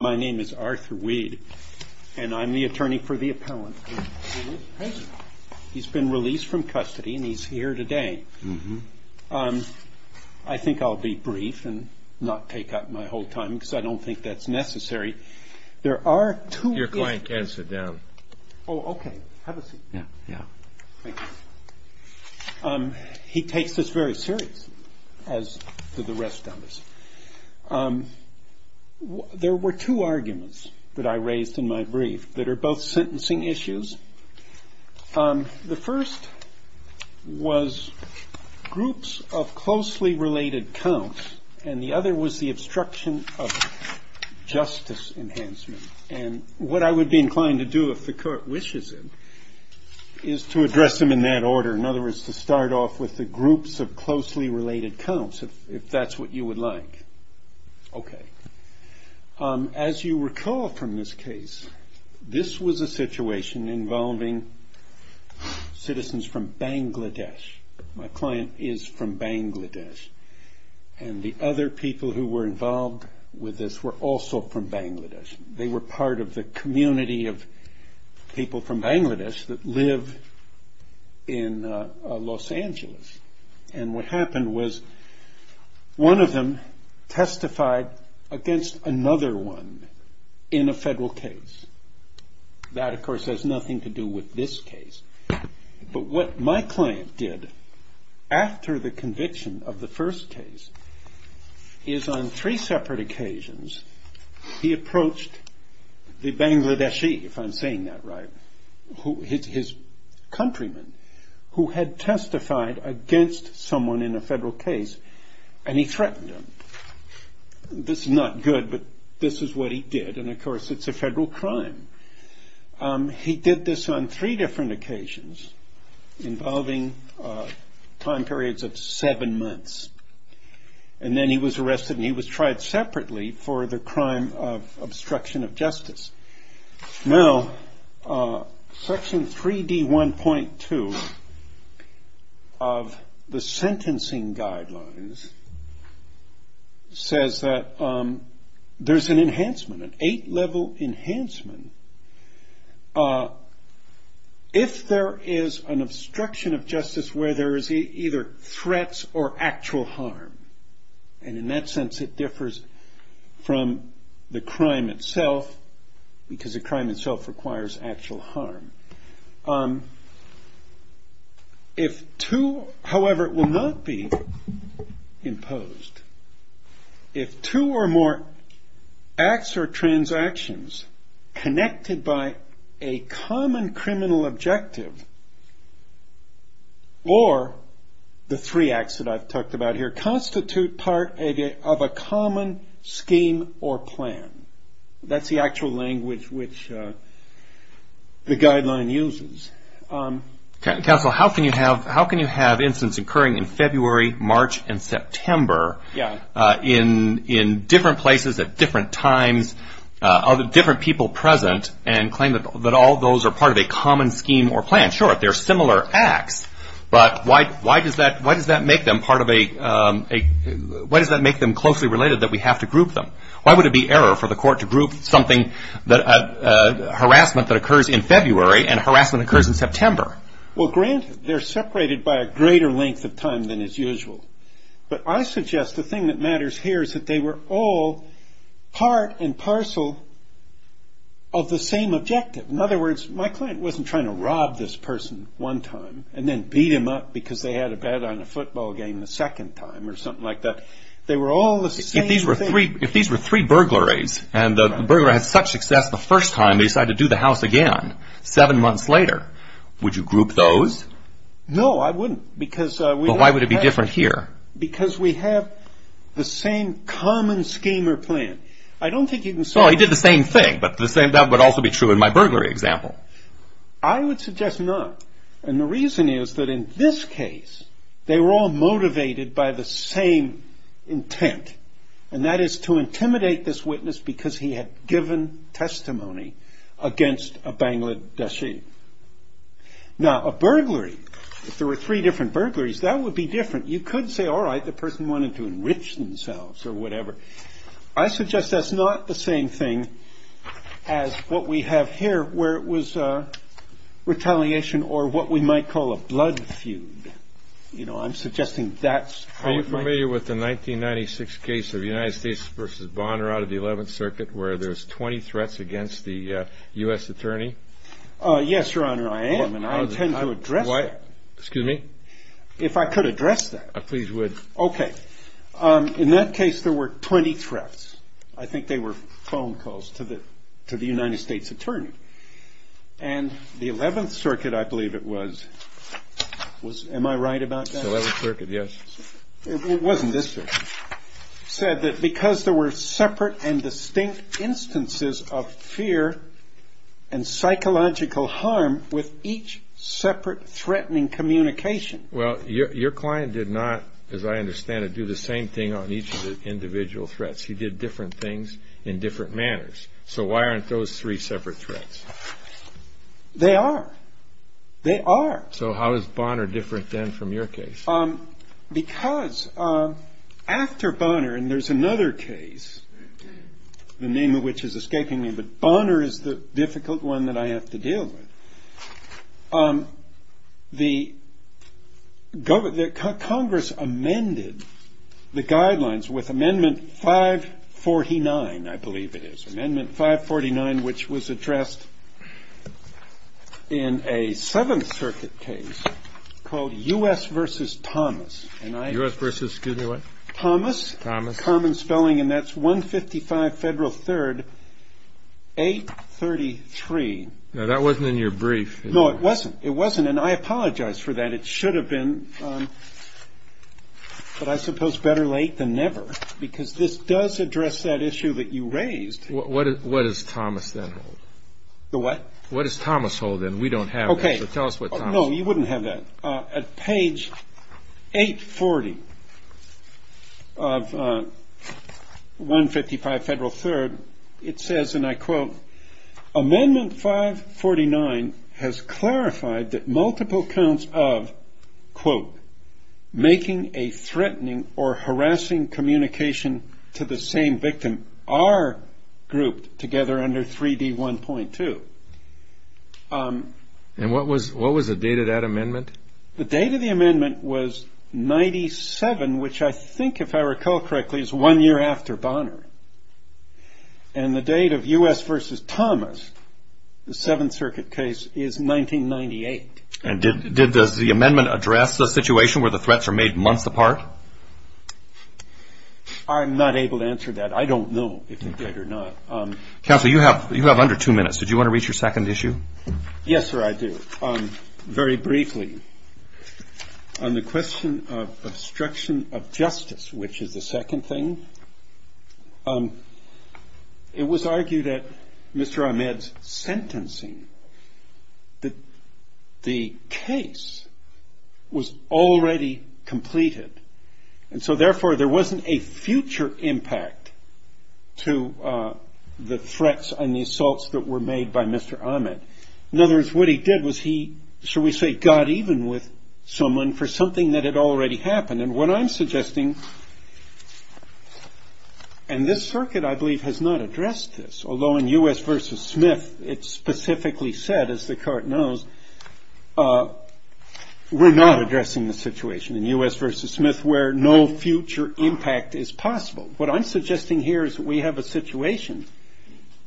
My name is Arthur Weed, and I'm the attorney for the appellant. He's been released from custody and he's here today. I think I'll be brief and not take up my whole time because I don't think that's necessary. There are two. Your client can sit down. Oh, OK. Have a seat. Yeah. Yeah. He takes this very serious, as do the rest of us. There were two arguments that I raised in my brief that are both sentencing issues. The first was groups of closely related counts, and the other was the obstruction of justice enhancement. And what I would be inclined to do, if the court wishes it, is to address them in that order. In other words, to start off with the groups of closely related counts, if that's what you would like. OK. As you recall from this case, this was a situation involving citizens from Bangladesh. My client is from Bangladesh. And the other people who were involved with this were also from Bangladesh. They were part of the community of people from Bangladesh that live in Los Angeles. And what happened was one of them testified against another one in a federal case. That, of course, has nothing to do with this case. But what my client did after the conviction of the first case is on three separate occasions, he approached the Bangladeshi, if I'm saying that right, his countrymen, who had testified against someone in a federal case, and he threatened them. This is not good, but this is what he did. And of course, it's a federal crime. He did this on three different occasions involving time periods of seven months. And then he was arrested and he was tried separately for the crime of obstruction of justice. Now, Section 3D1.2 of the sentencing guidelines says that there's an enhancement, an eight-level enhancement. If there is an obstruction of justice where there is either threats or actual harm, and in that sense it differs from the crime itself, because the crime itself requires actual harm. However, it will not be imposed if two or more acts or transactions connected by a common criminal objective or the three acts that I've talked about here constitute part of a common scheme or plan. That's the actual language which the guideline uses. Counsel, how can you have incidents occurring in February, March, and September in different places at different times, different people present, and claim that all those are part of a common scheme or plan? Sure, they're similar acts, but why does that make them closely related that we have to group them? Why would it be error for the court to group something, harassment that occurs in February and harassment that occurs in September? Well, granted, they're separated by a greater length of time than is usual. But I suggest the thing that matters here is that they were all part and parcel of the same objective. In other words, my client wasn't trying to rob this person one time and then beat him up because they had a bet on a football game the second time or something like that. They were all the same thing. If these were three burglaries and the burglar had such success the first time, they decided to do the house again seven months later, would you group those? No, I wouldn't. But why would it be different here? Because we have the same common scheme or plan. I don't think you can say... Well, he did the same thing, but that would also be true in my burglary example. I would suggest not. And the reason is that in this case, they were all motivated by the same intent. And that is to intimidate this witness because he had given testimony against a Bangladeshi. Now, a burglary, if there were three different burglaries, that would be different. You could say, all right, the person wanted to enrich themselves or whatever. I suggest that's not the same thing as what we have here where it was retaliation or what we might call a blood feud. You know, I'm suggesting that's how it might... Are you familiar with the 1996 case of United States v. Bonner out of the 11th Circuit where there's 20 threats against the U.S. Attorney? Yes, Your Honor, I am, and I intend to address that. Excuse me? If I could address that. Please would. Okay. In that case, there were 20 threats. I think they were phone calls to the United States Attorney. And the 11th Circuit, I believe it was, was... Am I right about that? The 11th Circuit, yes. It wasn't this version. Said that because there were separate and distinct instances of fear and psychological harm with each separate threatening communication. Well, your client did not, as I understand it, do the same thing on each of the individual threats. He did different things in different manners. So why aren't those three separate threats? They are. They are. So how is Bonner different then from your case? Because after Bonner, and there's another case, the name of which is escaping me, but Bonner is the difficult one that I have to deal with. The Congress amended the guidelines with Amendment 549, I believe it is. Amendment 549, which was addressed in a 7th Circuit case called U.S. v. Thomas. U.S. v. excuse me, what? Thomas. Thomas. Common spelling, and that's 155 Federal 3rd 833. Now, that wasn't in your brief. No, it wasn't. It wasn't, and I apologize for that. It should have been, but I suppose better late than never. Because this does address that issue that you raised. What does Thomas then hold? The what? What does Thomas hold then? We don't have that, so tell us what Thomas holds. No, you wouldn't have that. At page 840 of 155 Federal 3rd, it says, and I quote, Amendment 549 has clarified that multiple counts of, quote, grouped together under 3D1.2. And what was the date of that amendment? The date of the amendment was 97, which I think, if I recall correctly, is one year after Bonner. And the date of U.S. v. Thomas, the 7th Circuit case, is 1998. And did the amendment address the situation where the threats are made months apart? I'm not able to answer that. I don't know if it did or not. Counsel, you have under two minutes. Did you want to reach your second issue? Yes, sir, I do. Very briefly, on the question of obstruction of justice, which is the second thing, it was argued at Mr. Ahmed's sentencing that the case was already completed. And so, therefore, there wasn't a future impact to the threats and the assaults that were made by Mr. Ahmed. In other words, what he did was he, shall we say, got even with someone for something that had already happened. And what I'm suggesting, and this circuit, I believe, has not addressed this, although in U.S. v. Smith, it specifically said, as the court knows, we're not addressing the situation. In U.S. v. Smith, where no future impact is possible. What I'm suggesting here is that we have a situation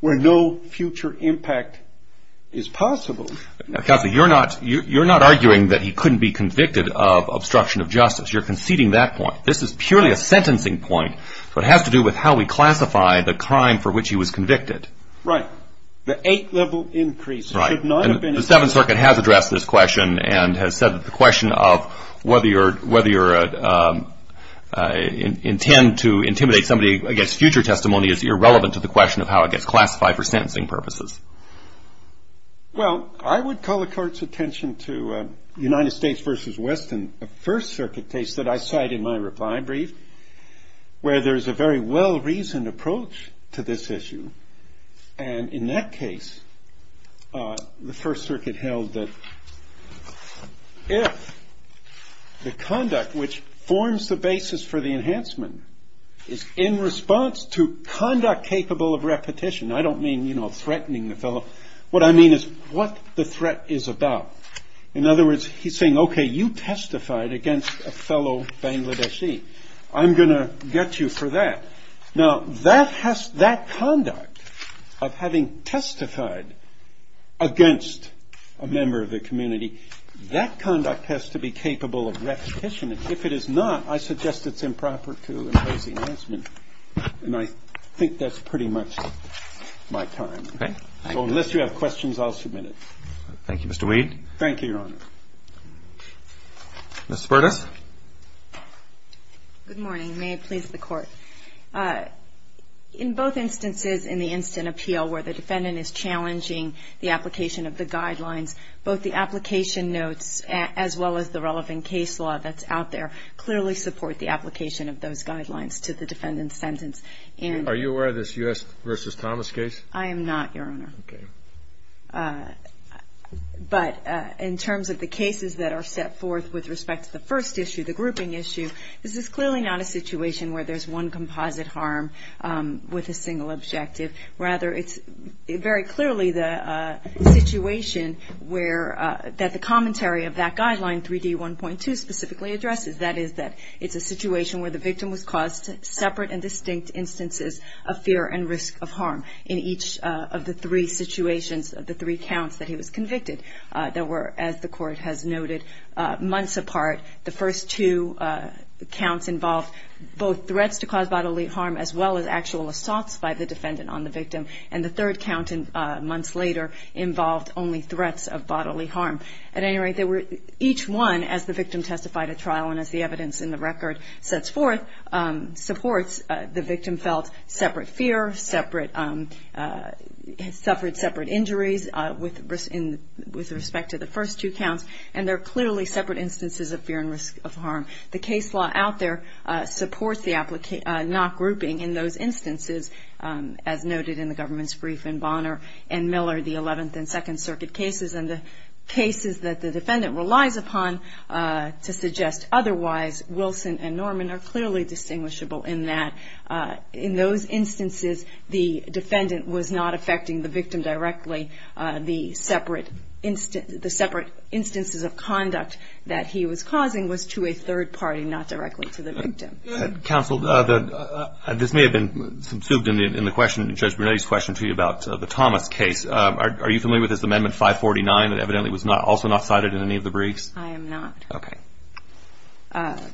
where no future impact is possible. Counsel, you're not arguing that he couldn't be convicted of obstruction of justice. You're conceding that point. This is purely a sentencing point. So it has to do with how we classify the crime for which he was convicted. Right. The eight-level increase should not have been. The Seventh Circuit has addressed this question and has said that the question of whether you intend to intimidate somebody against future testimony is irrelevant to the question of how it gets classified for sentencing purposes. Well, I would call the court's attention to United States v. Weston, a First Circuit case that I cite in my reply brief, where there is a very well-reasoned approach to this issue. And in that case, the First Circuit held that if the conduct which forms the basis for the enhancement is in response to conduct capable of repetition. I don't mean, you know, threatening the fellow. What I mean is what the threat is about. In other words, he's saying, OK, you testified against a fellow Bangladeshi. I'm going to get you for that. Now, that conduct of having testified against a member of the community, that conduct has to be capable of repetition. And if it is not, I suggest it's improper to impose enhancement. And I think that's pretty much my time. OK. So unless you have questions, I'll submit it. Thank you, Mr. Weed. Thank you, Your Honor. Ms. Burtis. Good morning. May it please the Court. In both instances in the instant appeal where the defendant is challenging the application of the guidelines, both the application notes as well as the relevant case law that's out there clearly support the application of those guidelines to the defendant's sentence. And are you aware of this U.S. versus Thomas case? I am not, Your Honor. OK. But in terms of the cases that are set forth with respect to the first issue, the grouping issue, this is clearly not a situation where there's one composite harm with a single objective. Rather, it's very clearly the situation that the commentary of that guideline, 3D1.2, specifically addresses. That is that it's a situation where the victim was caused separate and distinct instances of fear and risk of harm. In each of the three situations, the three counts that he was convicted, there were, as the Court has noted, months apart. The first two counts involved both threats to cause bodily harm as well as actual assaults by the defendant on the victim. And the third count, months later, involved only threats of bodily harm. At any rate, each one, as the victim testified at trial and as the evidence in the record sets forth, supports. The victim felt separate fear, suffered separate injuries with respect to the first two counts. And they're clearly separate instances of fear and risk of harm. The case law out there supports the not grouping in those instances, as noted in the government's brief in Bonner and Miller, the 11th and Second Circuit cases and the cases that the defendant relies upon to suggest otherwise. Wilson and Norman are clearly distinguishable in that, in those instances, the defendant was not affecting the victim directly. The separate instances of conduct that he was causing was to a third party, not directly to the victim. Counsel, this may have been subsumed in the question, Judge Brunetti's question to you about the Thomas case. Are you familiar with this Amendment 549 that evidently was also not cited in any of the briefs? I am not. Okay.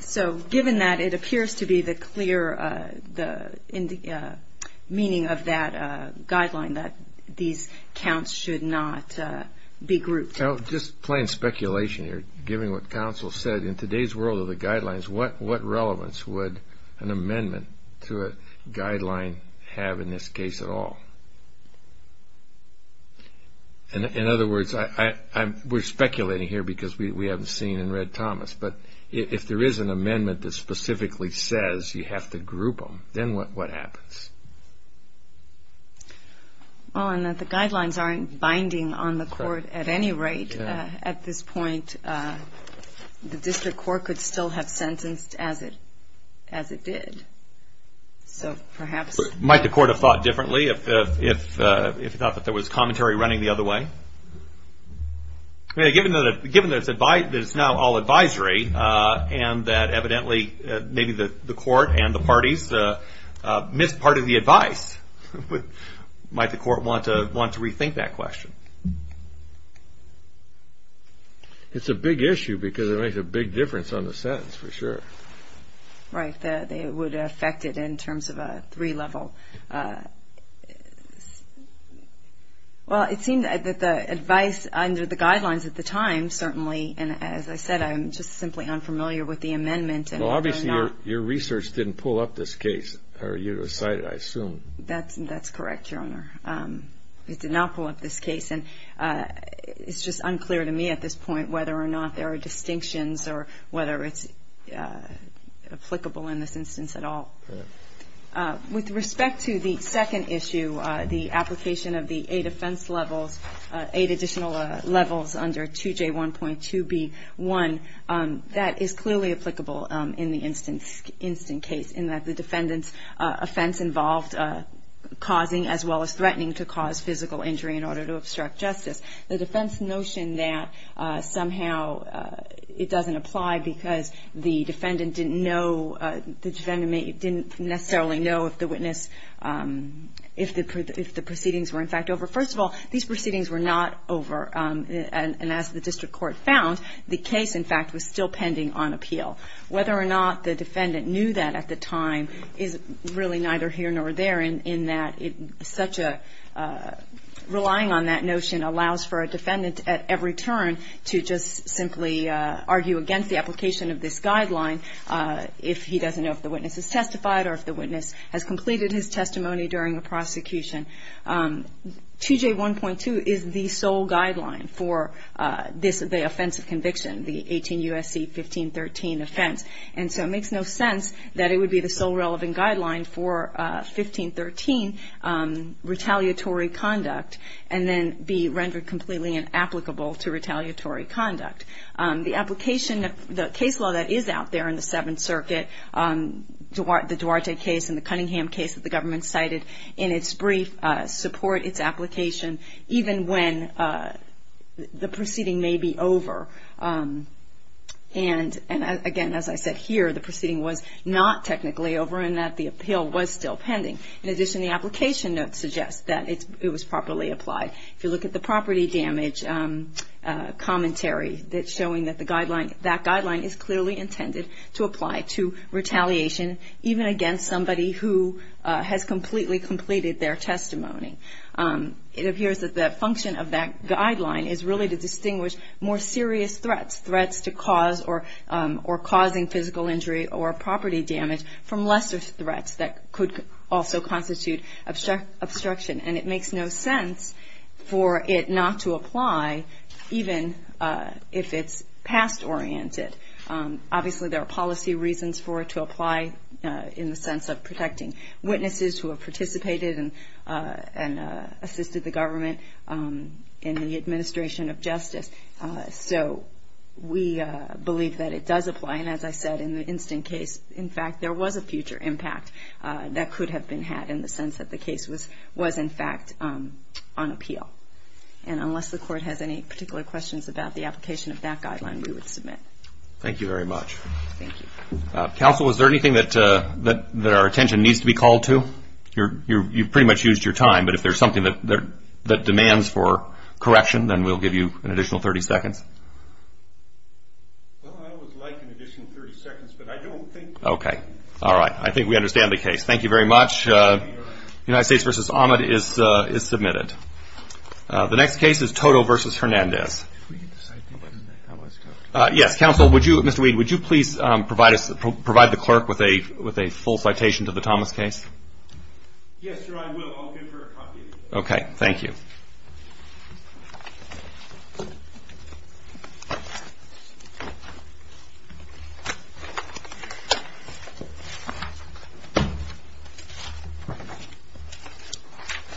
So, given that, it appears to be the clear meaning of that guideline that these counts should not be grouped. Now, just plain speculation here, given what counsel said, in today's world of the guidelines, what relevance would an amendment to a guideline have in this case at all? In other words, we're speculating here because we haven't seen and read Thomas, but if there is an amendment that specifically says you have to group them, then what happens? Oh, and that the guidelines aren't binding on the court at any rate. At this point, the district court could still have sentenced as it did. So, perhaps. Might the court have thought differently if he thought that there was commentary running the other way? Given that it's now all advisory and that evidently maybe the court and the parties missed part of the advice, might the court want to rethink that question? It's a big issue because it makes a big difference on the sentence, for sure. Right, that it would affect it in terms of a three-level. Well, it seemed that the advice under the guidelines at the time, certainly, and as I said, I'm just simply unfamiliar with the amendment. Well, obviously, your research didn't pull up this case, or you cited it, I assume. That's correct, Your Honor. It did not pull up this case, and it's just unclear to me at this point whether or not there are distinctions or whether it's applicable in this instance at all. With respect to the second issue, the application of the eight defense levels, eight additional levels under 2J1.2B1, that is clearly applicable in the instant case, in that the defendant's offense involved causing as well as threatening to cause physical injury in order to obstruct justice. The defense notion that somehow it doesn't apply because the defendant didn't know, the defendant didn't necessarily know if the witness, if the proceedings were, in fact, over. First of all, these proceedings were not over, and as the district court found, the case, in fact, was still pending on appeal. Whether or not the defendant knew that at the time is really neither here nor there, in that such a relying on that notion allows for a defendant at every turn to just simply argue against the application of this guideline if he doesn't know if the witness has testified or if the witness has completed his testimony during the prosecution. 2J1.2 is the sole guideline for the offense of conviction, the 18 U.S.C. 1513 offense, and so it makes no sense that it would be the sole relevant guideline for 1513 retaliatory conduct and then be rendered completely inapplicable to retaliatory conduct. The application, the case law that is out there in the Seventh Circuit, the Duarte case and the Cunningham case that the government cited in its brief support its application even when the proceeding may be over. And again, as I said here, the proceeding was not technically over and that the appeal was still pending. In addition, the application note suggests that it was properly applied. If you look at the property damage commentary, it's showing that the guideline, that guideline is clearly intended to apply to retaliation even against somebody who has completely completed their testimony. It appears that the function of that guideline is really to distinguish more serious threats, threats to cause or causing physical injury or property damage from lesser threats that could also constitute obstruction. And it makes no sense for it not to apply even if it's past oriented. Obviously, there are policy reasons for it to apply in the sense of protecting witnesses who have participated and assisted the government in the administration of justice. So we believe that it does apply. And as I said, in the instant case, in fact, there was a future impact that could have been had in the sense that the case was in fact on appeal. And unless the court has any particular questions about the application of that guideline, we would submit. Thank you very much. Thank you. Counsel, is there anything that our attention needs to be called to? You've pretty much used your time, but if there's something that demands for correction, then we'll give you an additional 30 seconds. Well, I would like an additional 30 seconds, but I don't think... Okay. All right. I think we understand the case. Thank you very much. United States v. Ahmed is submitted. The next case is Toto v. Hernandez. If we could just sign in. Yes. Counsel, would you, Mr. Weed, would you please provide the clerk with a full citation to the Thomas case? Yes, sir. I will. I'll give her a copy. Okay. Thank you.